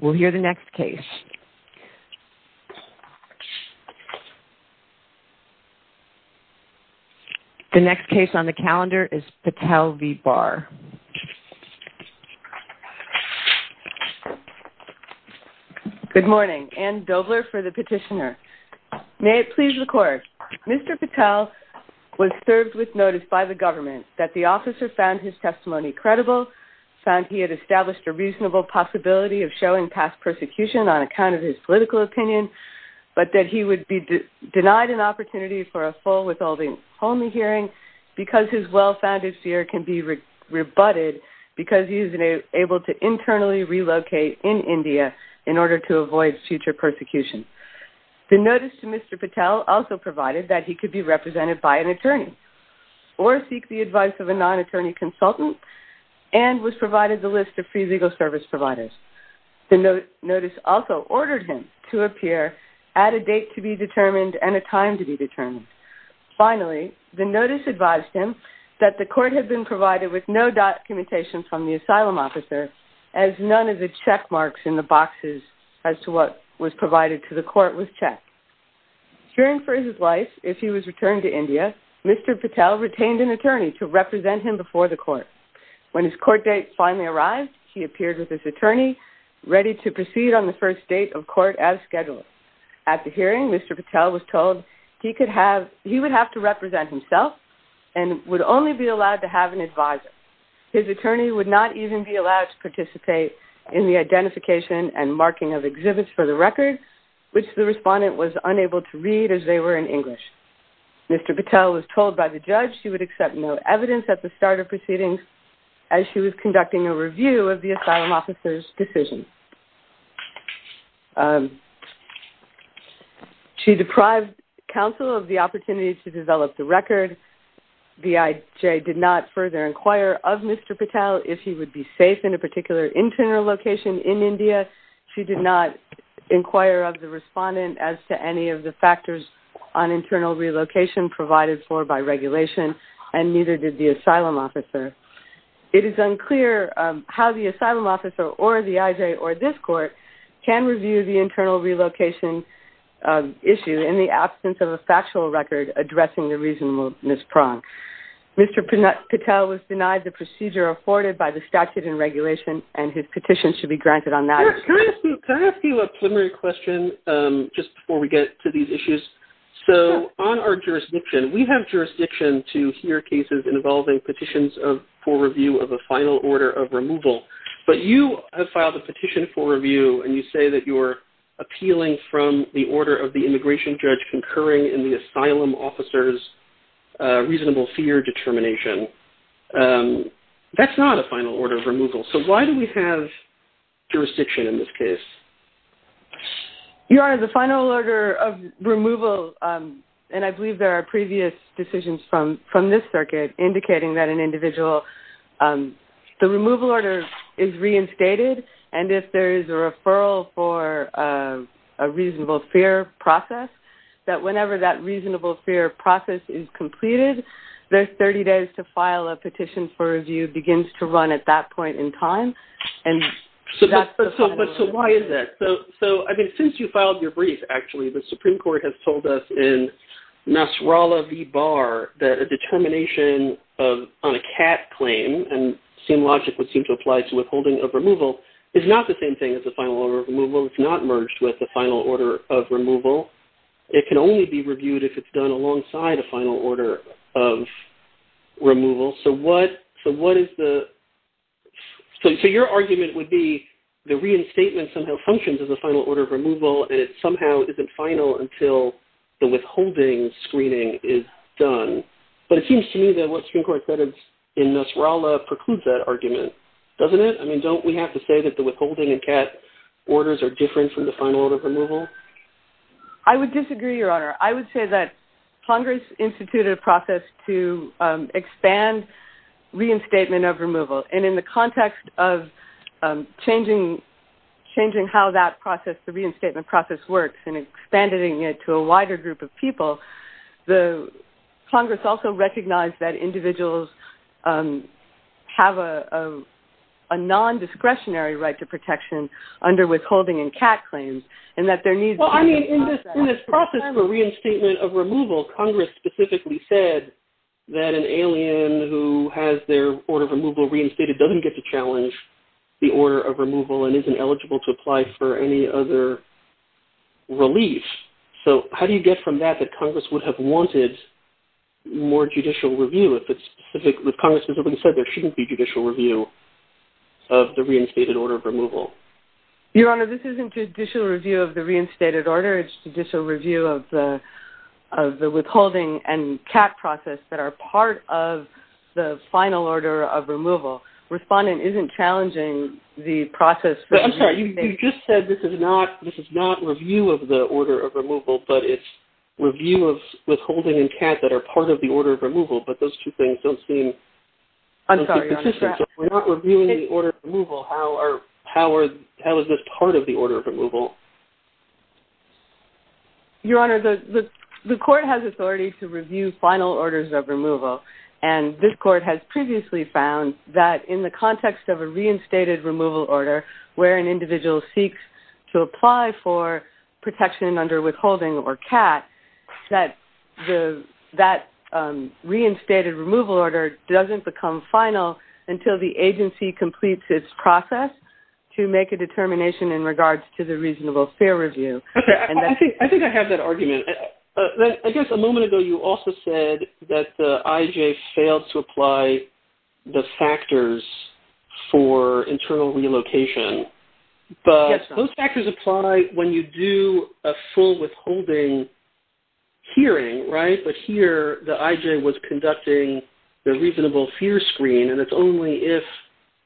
We'll hear the next case. The next case on the calendar is Patel v. Barr. Good morning. Ann Dobler for the petitioner. May it please the court, Mr. Patel was served with notice by the government that the officer found his testimony credible, found he had established a reasonable possibility of showing past persecution on account of his political opinion, but that he would be denied an opportunity for a full withholding only hearing because his well-founded fear can be rebutted because he is able to internally relocate in India in order to avoid future persecution. The notice to Mr. Patel also provided that he could be represented by an attorney or seek the advice of a non-attorney consultant and was provided the list of free legal service providers. The notice also ordered him to appear at a date to be determined and a time to be determined. Finally, the notice advised him that the court had been provided with no documentation from the asylum officer as none of the check marks in the boxes as to what was provided to the court was checked. During Ferdinand's life, if he was returned to India, Mr. Patel retained an attorney to represent him before the court. When his court date finally arrived, he appeared with his attorney ready to proceed on the first date of court as scheduled. At the hearing, Mr. Patel was told he would have to represent himself and would only be allowed to have an advisor. His attorney would not even be allowed to participate in the identification and marking of exhibits for the record, which the respondent was unable to read as they were in English. Mr. Patel was told by the judge he would accept no evidence at the start of proceedings as she was conducting a review of the asylum officer's decision. She deprived counsel of the opportunity to develop the record. BIJ did not further inquire of Mr. Patel if he would be safe in a particular internal location in India. She did not inquire of the respondent as to any of the factors on internal relocation provided for by regulation, and neither did the asylum officer. It is unclear how the asylum officer or the IJ or this court can review the internal relocation issue in the absence of a factual record addressing the reasonableness prong. Mr. Patel was denied the procedure afforded by the statute and regulation, and his petition should be granted on that. Can I ask you a preliminary question just before we get to these issues? So on our jurisdiction, we have jurisdiction to hear cases involving petitions for review of a final order of removal, but you have filed a petition for review and you say that you're appealing from the order of the immigration judge concurring in the asylum officer's reasonable That's not a final order of removal. So why do we have jurisdiction in this case? Your Honor, the final order of removal, and I believe there are previous decisions from this circuit indicating that an individual, the removal order is reinstated, and if there is a referral for a reasonable fair process, that whenever that reasonable fair process is completed, there's 30 days to file a petition for review begins to run at that point in time, and that's the final order of removal. But so why is that? So, I mean, since you filed your brief, actually, the Supreme Court has told us in Nasrallah v. Barr that a determination on a cat claim, and same logic would seem to apply to withholding of removal, is not the same thing as a final order of removal. It's not merged with a final order of removal. It can only be reviewed if it's done alongside a final order of removal. So what is the, so your argument would be the reinstatement somehow functions as a final order of removal, and it somehow isn't final until the withholding screening is done. But it seems to me that what Supreme Court said in Nasrallah precludes that argument, doesn't it? I mean, don't we have to say that the withholding and cat orders are different from the final order of removal? I would disagree, Your Honor. I would say that Congress instituted a process to expand reinstatement of removal, and in the context of changing how that process, the reinstatement process, works and expanding it to a wider group of people, Congress also recognized that individuals have a non-discretionary right to protection under withholding and cat claims, and that there needs to be a process In this process for reinstatement of removal, Congress specifically said that an alien who has their order of removal reinstated doesn't get to challenge the order of removal and isn't eligible to apply for any other relief. So how do you get from that that Congress would have wanted more judicial review if it specifically, if Congress specifically said there shouldn't be judicial review of the reinstated order of removal? Your Honor, this isn't judicial review of the reinstated order. This is encouraged judicial review of the withholding and cat process that are part of the final order of removal. Respondent isn't challenging the process for the reinstatement. I'm sorry. You just said this is not review of the order of removal, but it's review of withholding and cat that are part of the order of removal, but those two things don't seem consistent. I'm sorry. You're on the track. So if we're not reviewing the order of removal, how are, how is this part of the order of removal? Your Honor, the court has authority to review final orders of removal, and this court has previously found that in the context of a reinstated removal order where an individual seeks to apply for protection under withholding or cat, that the, that reinstated removal order doesn't become final until the agency completes its process to make a determination in regards to the reasonable fear review. Okay. I think, I think I have that argument. I guess a moment ago you also said that the IJ failed to apply the factors for internal relocation. Yes, Your Honor. But those factors apply when you do a full withholding hearing, right, but here the IJ was conducting the reasonable fear screen, and it's only if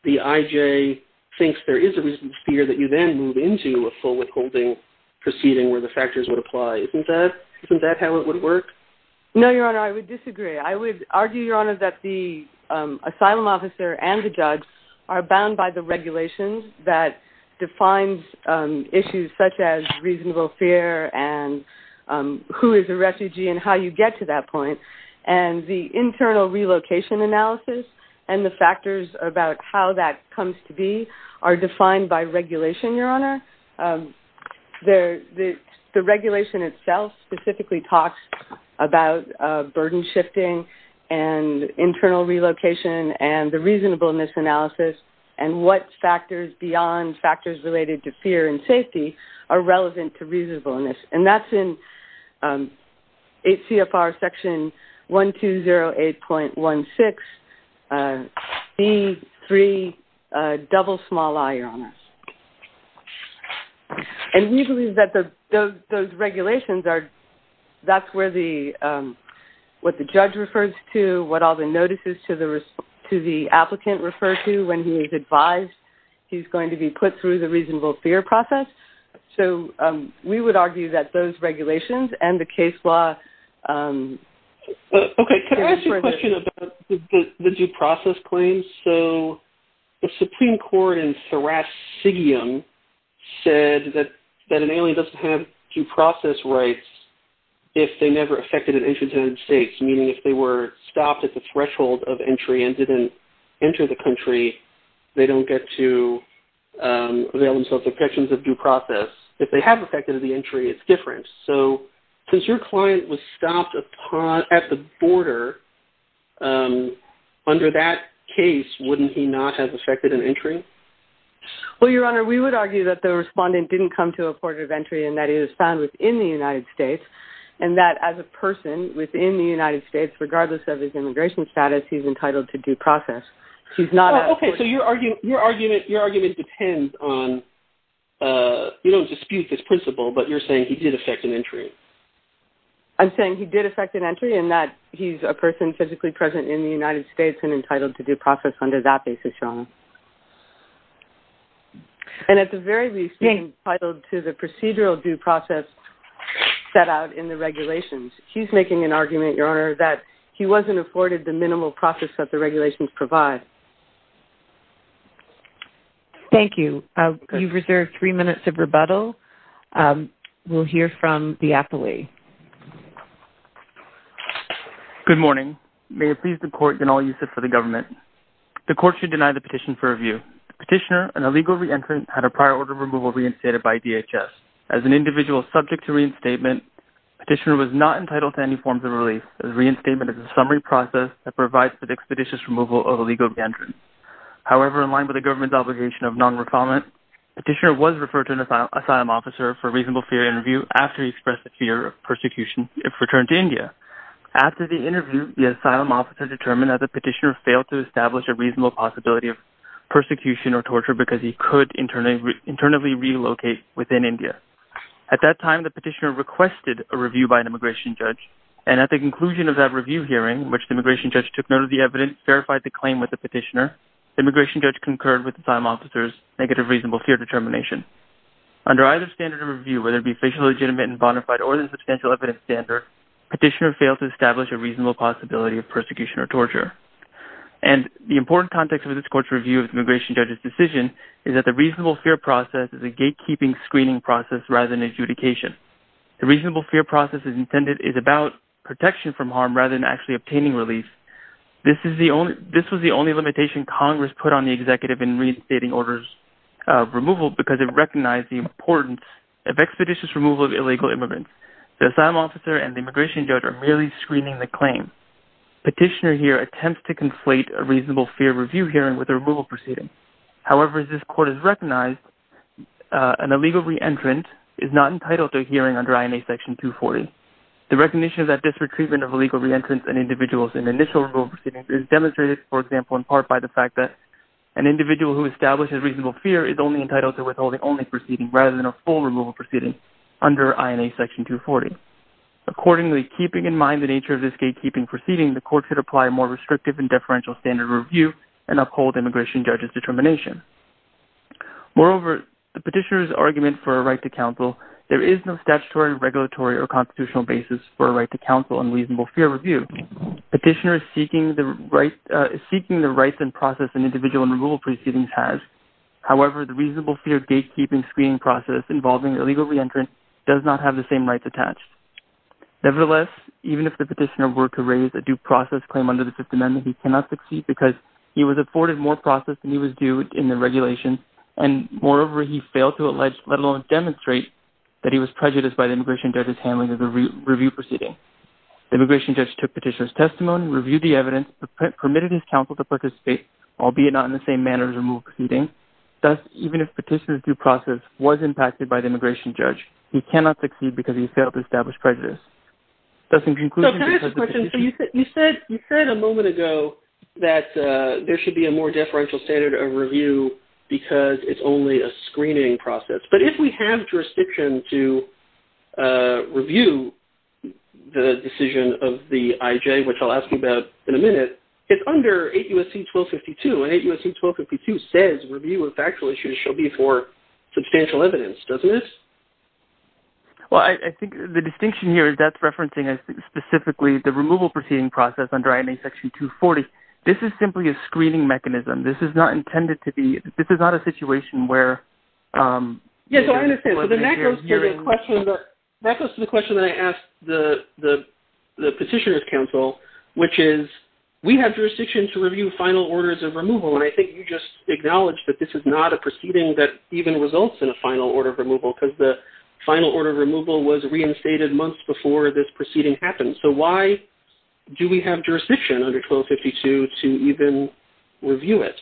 the IJ thinks there is a reasonable fear that you then move into a full withholding proceeding where the factors would apply. Isn't that, isn't that how it would work? No, Your Honor, I would disagree. I would argue, Your Honor, that the asylum officer and the judge are bound by the regulations that defines issues such as reasonable fear and who is a refugee and how you get to that point, and the internal relocation analysis and the factors about how that comes to be are defined by regulation, Your Honor. The regulation itself specifically talks about burden shifting and internal relocation and the reasonableness analysis and what factors beyond factors related to fear and safety are relevant to reasonableness. And that's in 8 CFR Section 1208.16, D3, double small i, Your Honor. And we believe that those regulations are, that's where the, what the judge refers to, what all the notices to the applicant refer to when he is advised he's going to be put through the reasonable fear process. So we would argue that those regulations and the case law... Okay, can I ask you a question about the due process claims? So the Supreme Court in Thiraskigiam said that an alien doesn't have due process rights if they never affected an entrant in the United States, meaning if they were stopped at the threshold of entry and didn't enter the country, they don't get to avail themselves of protections of due process. If they have affected the entry, it's different. So since your client was stopped at the border, under that case, wouldn't he not have affected an entry? Well, Your Honor, we would argue that the respondent didn't come to a border of entry and that he was found within the United States and that as a person within the United States, regardless of his immigration status, he's entitled to due process. He's not... Okay, so your argument depends on... You don't dispute this principle, but you're saying he did affect an entry. I'm saying he did affect an entry and that he's a person physically present in the United States and entitled to due process under that basis, Your Honor. And at the very least, he's entitled to the procedural due process set out in the regulations. He's making an argument, Your Honor, that he wasn't afforded the minimal process that the regulations provide. Thank you. You've reserved three minutes of rebuttal. We'll hear from the appellee. Good morning. May it please the court and all uses for the government. The court should deny the petition for review. Petitioner, an illegal re-entrant, had a prior order of removal reinstated by DHS. As an individual subject to reinstatement, petitioner was not entitled to any forms of process that provides for the expeditious removal of illegal re-entrants. However, in line with the government's obligation of non-refinement, petitioner was referred to an asylum officer for reasonable fear interview after he expressed a fear of persecution if returned to India. After the interview, the asylum officer determined that the petitioner failed to establish a reasonable possibility of persecution or torture because he could internally relocate within India. At that time, the petitioner requested a review by an immigration judge, and at the conclusion of that review hearing, which the immigration judge took note of the evidence, verified the claim with the petitioner, the immigration judge concurred with the asylum officer's negative reasonable fear determination. Under either standard of review, whether it be facially legitimate and bona fide or the substantial evidence standard, petitioner failed to establish a reasonable possibility of persecution or torture. And the important context of this court's review of the immigration judge's decision is that the reasonable fear process is a gatekeeping screening process rather than adjudication. The reasonable fear process is intended, is about protection from harm rather than actually obtaining relief. This is the only, this was the only limitation Congress put on the executive in reinstating orders of removal because it recognized the importance of expeditious removal of illegal immigrants. The asylum officer and the immigration judge are merely screening the claim. Petitioner here attempts to conflate a reasonable fear review hearing with a removal proceeding. However, as this court has recognized, an illegal re-entrant is not entitled to a hearing under INA section 240. The recognition of that disparate treatment of illegal re-entrants and individuals in initial removal proceedings is demonstrated, for example, in part by the fact that an individual who establishes reasonable fear is only entitled to withholding only proceeding rather than a full removal proceeding under INA section 240. Accordingly, keeping in mind the nature of this gatekeeping proceeding, the court should apply a more restrictive and deferential standard of review and uphold immigration judge's determination. Moreover, the petitioner's argument for a right to counsel, there is no statutory, regulatory, or constitutional basis for a right to counsel in reasonable fear review. Petitioner is seeking the rights and process an individual in removal proceedings has. However, the reasonable fear gatekeeping screening process involving illegal re-entrant does not have the same rights attached. Nevertheless, even if the petitioner were to raise a due process claim under the Fifth Amendment, he cannot succeed because he was afforded more process than he was due in the regulation, and moreover, he failed to allege, let alone demonstrate, that he was prejudiced by the immigration judge's handling of the review proceeding. The immigration judge took petitioner's testimony, reviewed the evidence, permitted his counsel to participate, albeit not in the same manner as removal proceedings. Thus, even if petitioner's due process was impacted by the immigration judge, he cannot succeed because he failed to establish prejudice. Thus, in conclusion, because the petitioner... that there should be a more deferential standard of review because it's only a screening process. But if we have jurisdiction to review the decision of the IJ, which I'll ask you about in a minute, it's under 8 U.S.C. 1252, and 8 U.S.C. 1252 says review of factual issues shall be for substantial evidence, doesn't it? Well, I think the distinction here is that's referencing specifically the removal proceeding process under INA Section 240. This is simply a screening mechanism. This is not intended to be... This is not a situation where... Yes, so I understand. So then that goes to the question that I asked the petitioner's counsel, which is, we have jurisdiction to review final orders of removal. And I think you just acknowledged that this is not a proceeding that even results in a final order of removal because the final order of removal was reinstated months before this proceeding happened. So why do we have jurisdiction under 1252 to even review it?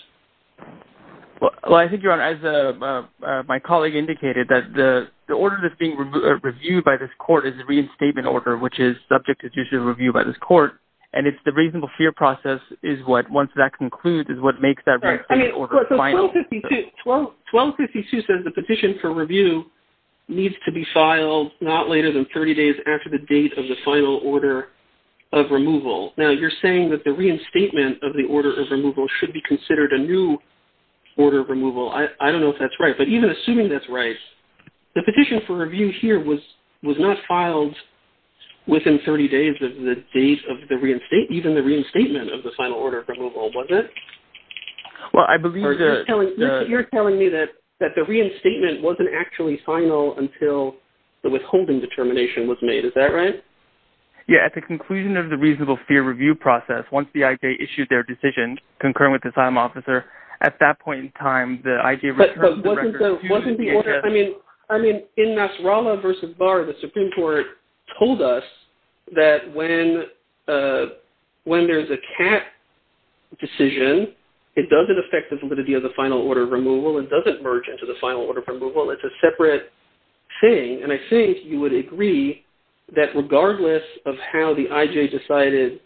Well, I think, Your Honor, as my colleague indicated, that the order that's being reviewed by this court is the reinstatement order, which is subject to judicial review by this court. And it's the reasonable fear process is what, once that concludes, is what makes that reinstatement order final. I mean, so 1252 says the petition for review needs to be filed not later than 30 days after the date of the final order of removal. Now, you're saying that the reinstatement of the order of removal should be considered a new order of removal. I don't know if that's right. But even assuming that's right, the petition for review here was not filed within 30 days of the date of the reinstatement... Even the reinstatement of the final order of removal, was it? Well, I believe... You're telling me that the reinstatement wasn't actually final until the withholding determination was made. Is that right? Yeah. At the conclusion of the reasonable fear review process, once the IJ issued their decision concurring with the time officer, at that point in time, the IJ... But wasn't the order... I mean, in Nasrallah versus Barr, the Supreme Court told us that when there's a cap decision, it doesn't affect the validity of the final order of removal. It doesn't merge into the final order of removal. It's a separate thing. And I think you would agree that regardless of how the IJ decided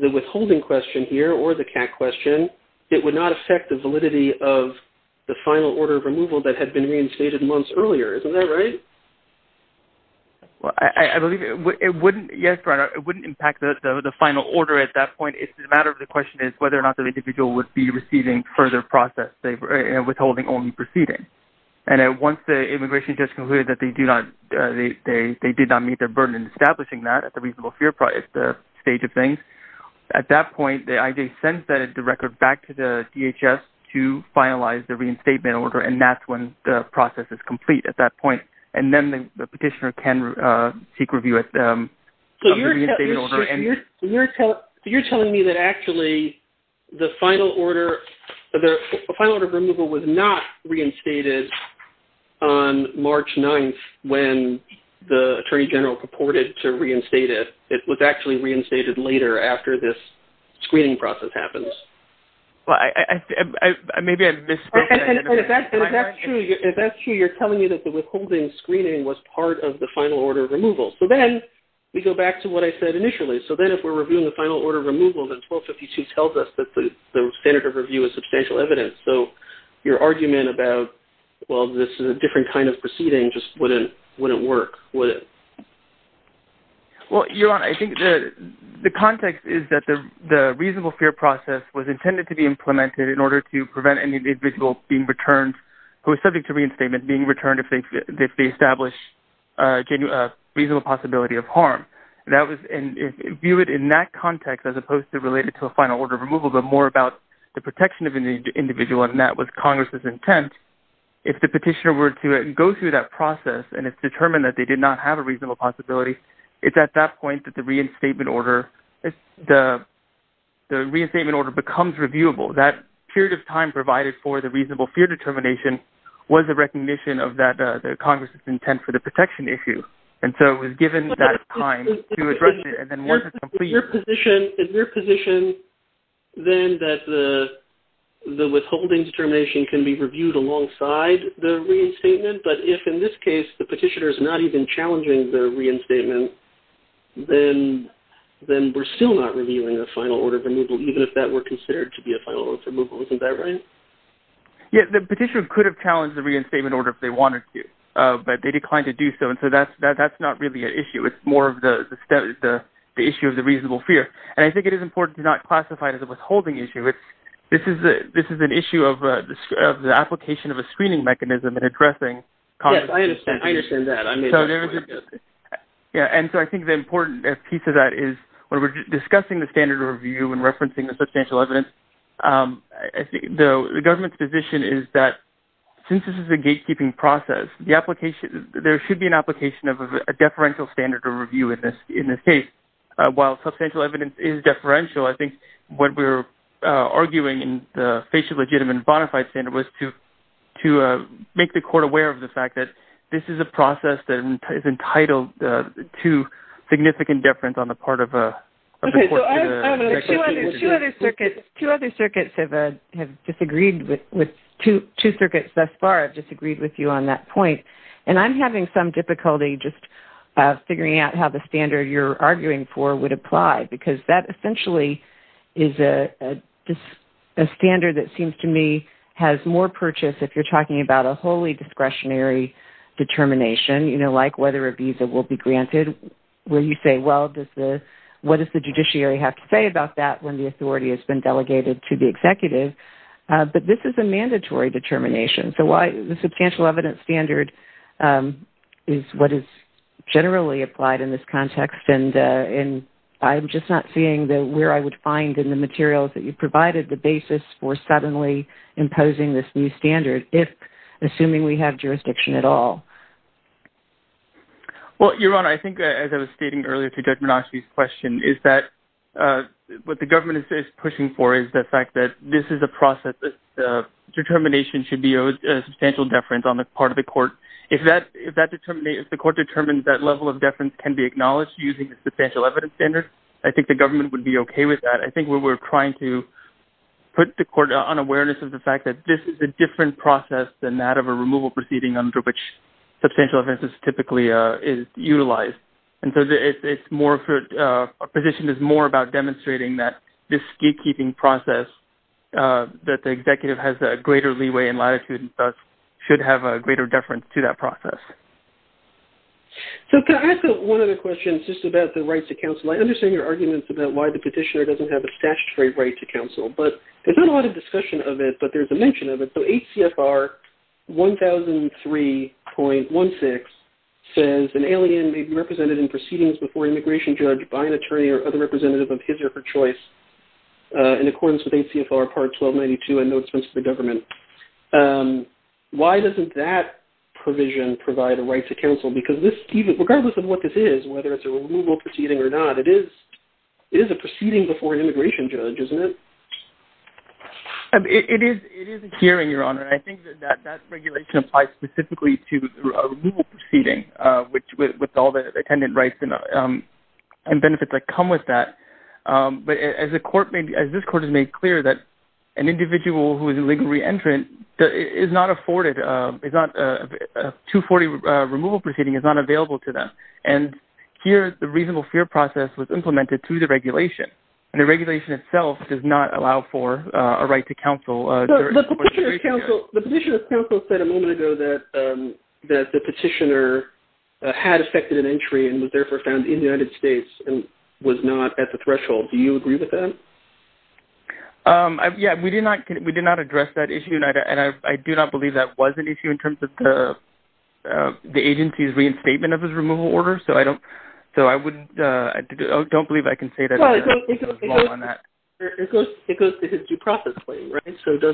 the withholding question here, or the cap question, it would not affect the validity of the final order of removal that had been reinstated months earlier. Isn't that right? Well, I believe it wouldn't... Yes, right. It wouldn't impact the final order at that point. It's a matter of the question is whether or not the individual would be receiving further process, withholding only proceeding. And once the immigration judge concluded that they did not meet their burden in establishing that at the reasonable fear stage of things, at that point, the IJ sends the record back to the DHS to finalize the reinstatement order. And that's when the process is complete at that point. And then the petitioner can seek review of the reinstatement order. So you're telling me that actually the final order of removal was not reinstated on March 9th when the Attorney General purported to reinstate it. It was actually reinstated later after this screening process happens. Well, maybe I misspoke there. If that's true, you're telling me that the withholding screening was part of the final order of removal. So then we go back to what I said initially. So then if we're reviewing the final order of removal, then 1252 tells us that the standard of review is substantial evidence. So your argument about, well, this is a different kind of proceeding just wouldn't work. Well, Yaron, I think the context is that the reasonable fear process was intended to be implemented in order to prevent any individual being returned who is subject to reinstatement being returned if they establish a reasonable possibility of harm. View it in that context as opposed to related to a final order of removal, but more about the protection of an individual. And that was Congress's intent. If the petitioner were to go through that process and it's determined that they did not have a reasonable possibility, it's at that point that the reinstatement order becomes reviewable. That period of time provided for the reasonable fear determination was a recognition of that Congress's intent for the protection issue. And so it was given that time to address it. And then once it's complete... Is your position then that the withholding determination can be reviewed alongside the reinstatement? But if in this case the petitioner is not even challenging the reinstatement, then we're still not reviewing the final order of removal, even if that were considered to be a final order of removal. Isn't that right? Yes. The petitioner could have challenged the reinstatement order if they wanted to, but they declined to do so. And so that's not really an issue. It's more of the issue of the reasonable fear. And I think it is important to not classify it as a withholding issue. This is an issue of the application of a screening mechanism in addressing Congress's intent. Yes. I understand that. And so I think the important piece of that is when we're discussing the standard of review and referencing the substantial evidence, the government's position is that since this is a gatekeeping process, there should be an application of a deferential standard of review in this case. While substantial evidence is deferential, I think what we're arguing in the FACIA-legitimate and bona fide standard was to make the court aware of the fact that this is a process that is entitled to significant deference on the part of the court. Two other circuits have disagreed with two circuits thus far have disagreed with you on that point. And I'm having some difficulty just figuring out how the standard you're arguing for would apply because that essentially is a standard that seems to me has more purchase if you're talking about a wholly discretionary determination, you know, like whether a visa will be granted where you say, well, what does the judiciary have to say about that when the authority has been delegated to the executive? But this is a mandatory determination. So why the substantial evidence standard is what is generally applied in this context and I'm just not seeing that where I would find in the materials that you provided the basis for suddenly imposing this new standard if assuming we have jurisdiction at all. Well, Your Honor, I think as I was stating earlier to Judge Minocci's question is that what the government is pushing for is the fact that this is a process that determination should be owed substantial deference on the part of the court. If the court determines that level of deference can be acknowledged using the substantial evidence standard, I think the government would be okay with that. I think we're trying to put the court on awareness of the fact that this is a different process than that of a removal proceeding under which substantial evidence is typically utilized. And so a position is more about demonstrating that this gatekeeping process that the executive has a greater leeway and latitude and thus should have a greater deference to that process. So can I ask one other question just about the rights to counsel? I understand your arguments about why the petitioner doesn't have a statutory right to counsel, but there's not a lot of discussion of it, but there's a mention of it. So HCFR 1003.16 says an alien may be represented in proceedings before an immigration judge by an attorney or other representative of his or her choice in accordance with HCFR Part 1292 and no expense to the government. Why doesn't that provision provide a right to counsel? Because regardless of what this is, whether it's a removal proceeding or not, it is a proceeding before an immigration judge, isn't it? It is a hearing, Your Honor, and I think that that regulation applies specifically to a removal proceeding with all the attendant rights and benefits that come with that. But as this court has made clear that an individual who is a legal re-entrant is not afforded, a 240 removal proceeding is not available to them. And here the reasonable fear process was implemented through the regulation. And the regulation itself does not allow for a right to counsel. The petitioner's counsel said a moment ago that the petitioner had affected an entry and was therefore found in the United States and was not at the threshold. Do you agree with that? Yeah, we did not address that issue. And I do not believe that was an issue in terms of the agency's reinstatement of his removal order. So I don't believe I can say that it was wrong on that. It goes to his due process claim, right? So it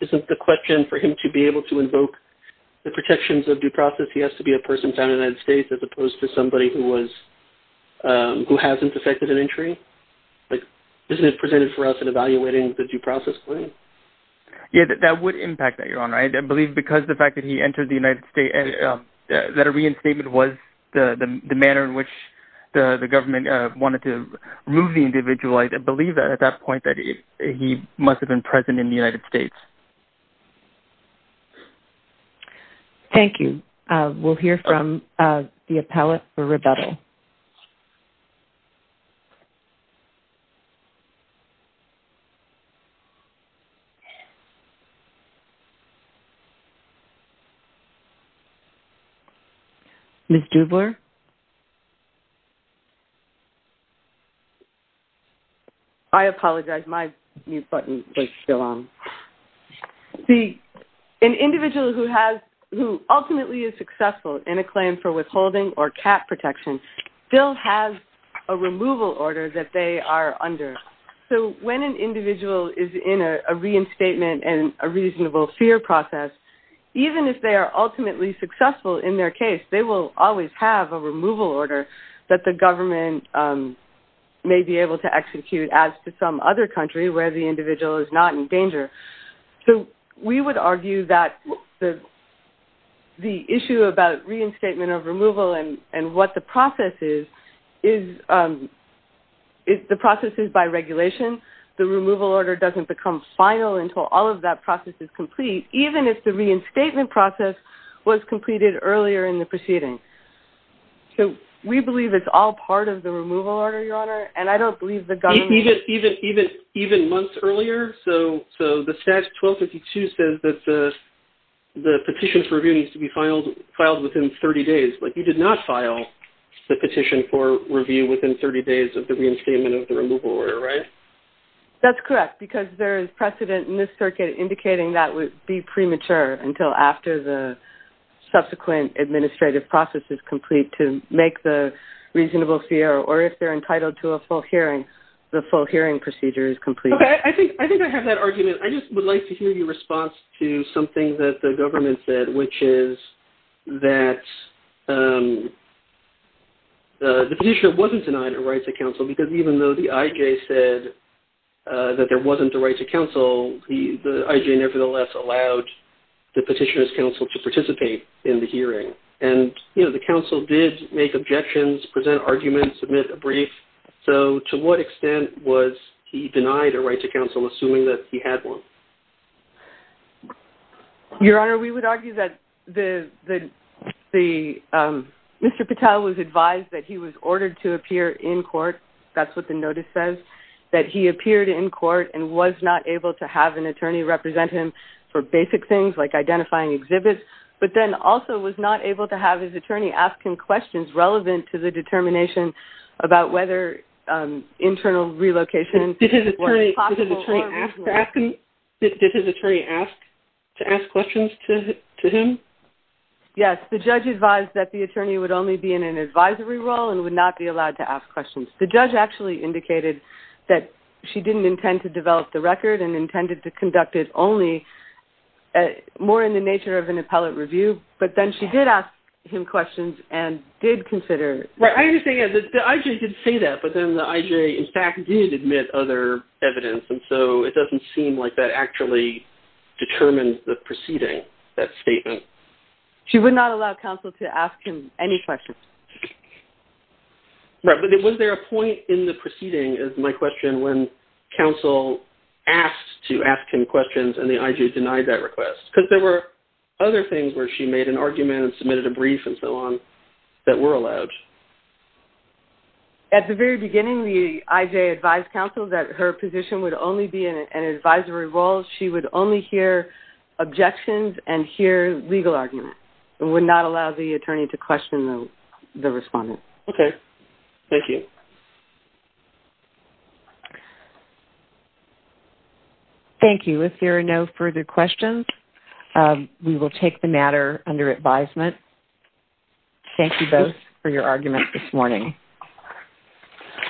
isn't the question for him to be able to invoke the protections of due process. He has to be a person found in the United States as opposed to somebody who hasn't affected an entry. Isn't it presented for us in evaluating the due process claim? Yeah, that would impact that, Your Honor. I believe because of the fact that he entered the United States, that a reinstatement was the manner in which the government wanted to remove the individual. I believe at that point that he must have been present in the United States. Thank you. We'll hear from the appellate for rebuttal. Ms. Dubler? I apologize. My mute button was still on. See, an individual who ultimately is successful in a claim for withholding or cap protection still has a removal order that they are under. So when an individual is in a reinstatement and a reasonable fear process, even if they are ultimately successful in their case, they will always have a removal order that the government may be able to execute as to some other country where the individual is not in danger. So we would argue that the issue about reinstatement of removal and what the process is, the process is by regulation. The removal order doesn't become final until all of that process is complete, even if the reinstatement process was completed earlier in the proceeding. Even months earlier? So the statute 1252 says that the petition for review needs to be filed within 30 days. But you did not file the petition for review within 30 days of the reinstatement of the removal order, right? That's correct, because there is precedent in this circuit indicating that would be premature until after the subsequent administrative process is complete to make the reasonable fear or if they are entitled to a full hearing, the full hearing procedure is complete. I think I have that argument. I just would like to hear your response to something that the government said, which is that the petitioner wasn't denied a right to counsel because even though the IJ said that there wasn't a right to counsel, the IJ nevertheless allowed the petitioner's counsel to participate in the hearing. And the counsel did make objections, present arguments, submit a brief. So to what extent was he denied a right to counsel, assuming that he had one? Your Honor, we would argue that Mr. Patel was advised that he was ordered to appear in court, that's what the notice says, that he appeared in court and was not able to have an attorney represent him for basic things like identifying exhibits, but then also was not able to have his attorney ask him questions relevant to the determination about whether internal relocation was possible or not. Did his attorney ask to ask questions to him? Yes, the judge advised that the attorney would only be in an advisory role and would not be allowed to ask questions. The judge actually indicated that she didn't intend to develop the record and intended to conduct it only more in the nature of an appellate review, but then she did ask him questions and did consider... Right, I understand that the IJ did say that, but then the IJ in fact did admit other evidence, and so it doesn't seem like that actually determined the proceeding, that statement. She would not allow counsel to ask him any questions. Right, but was there a point in the proceeding, is my question, when counsel asked to ask him questions and the IJ denied that request? Because there were other things where she made an argument and submitted a brief and so on that were allowed. At the very beginning, the IJ advised counsel that her position would only be in an advisory role. She would only hear objections and hear legal arguments. It would not allow the attorney to question the respondent. Okay, thank you. Thank you, if there are no further questions, we will take the matter under advisement. Thank you both for your arguments this morning.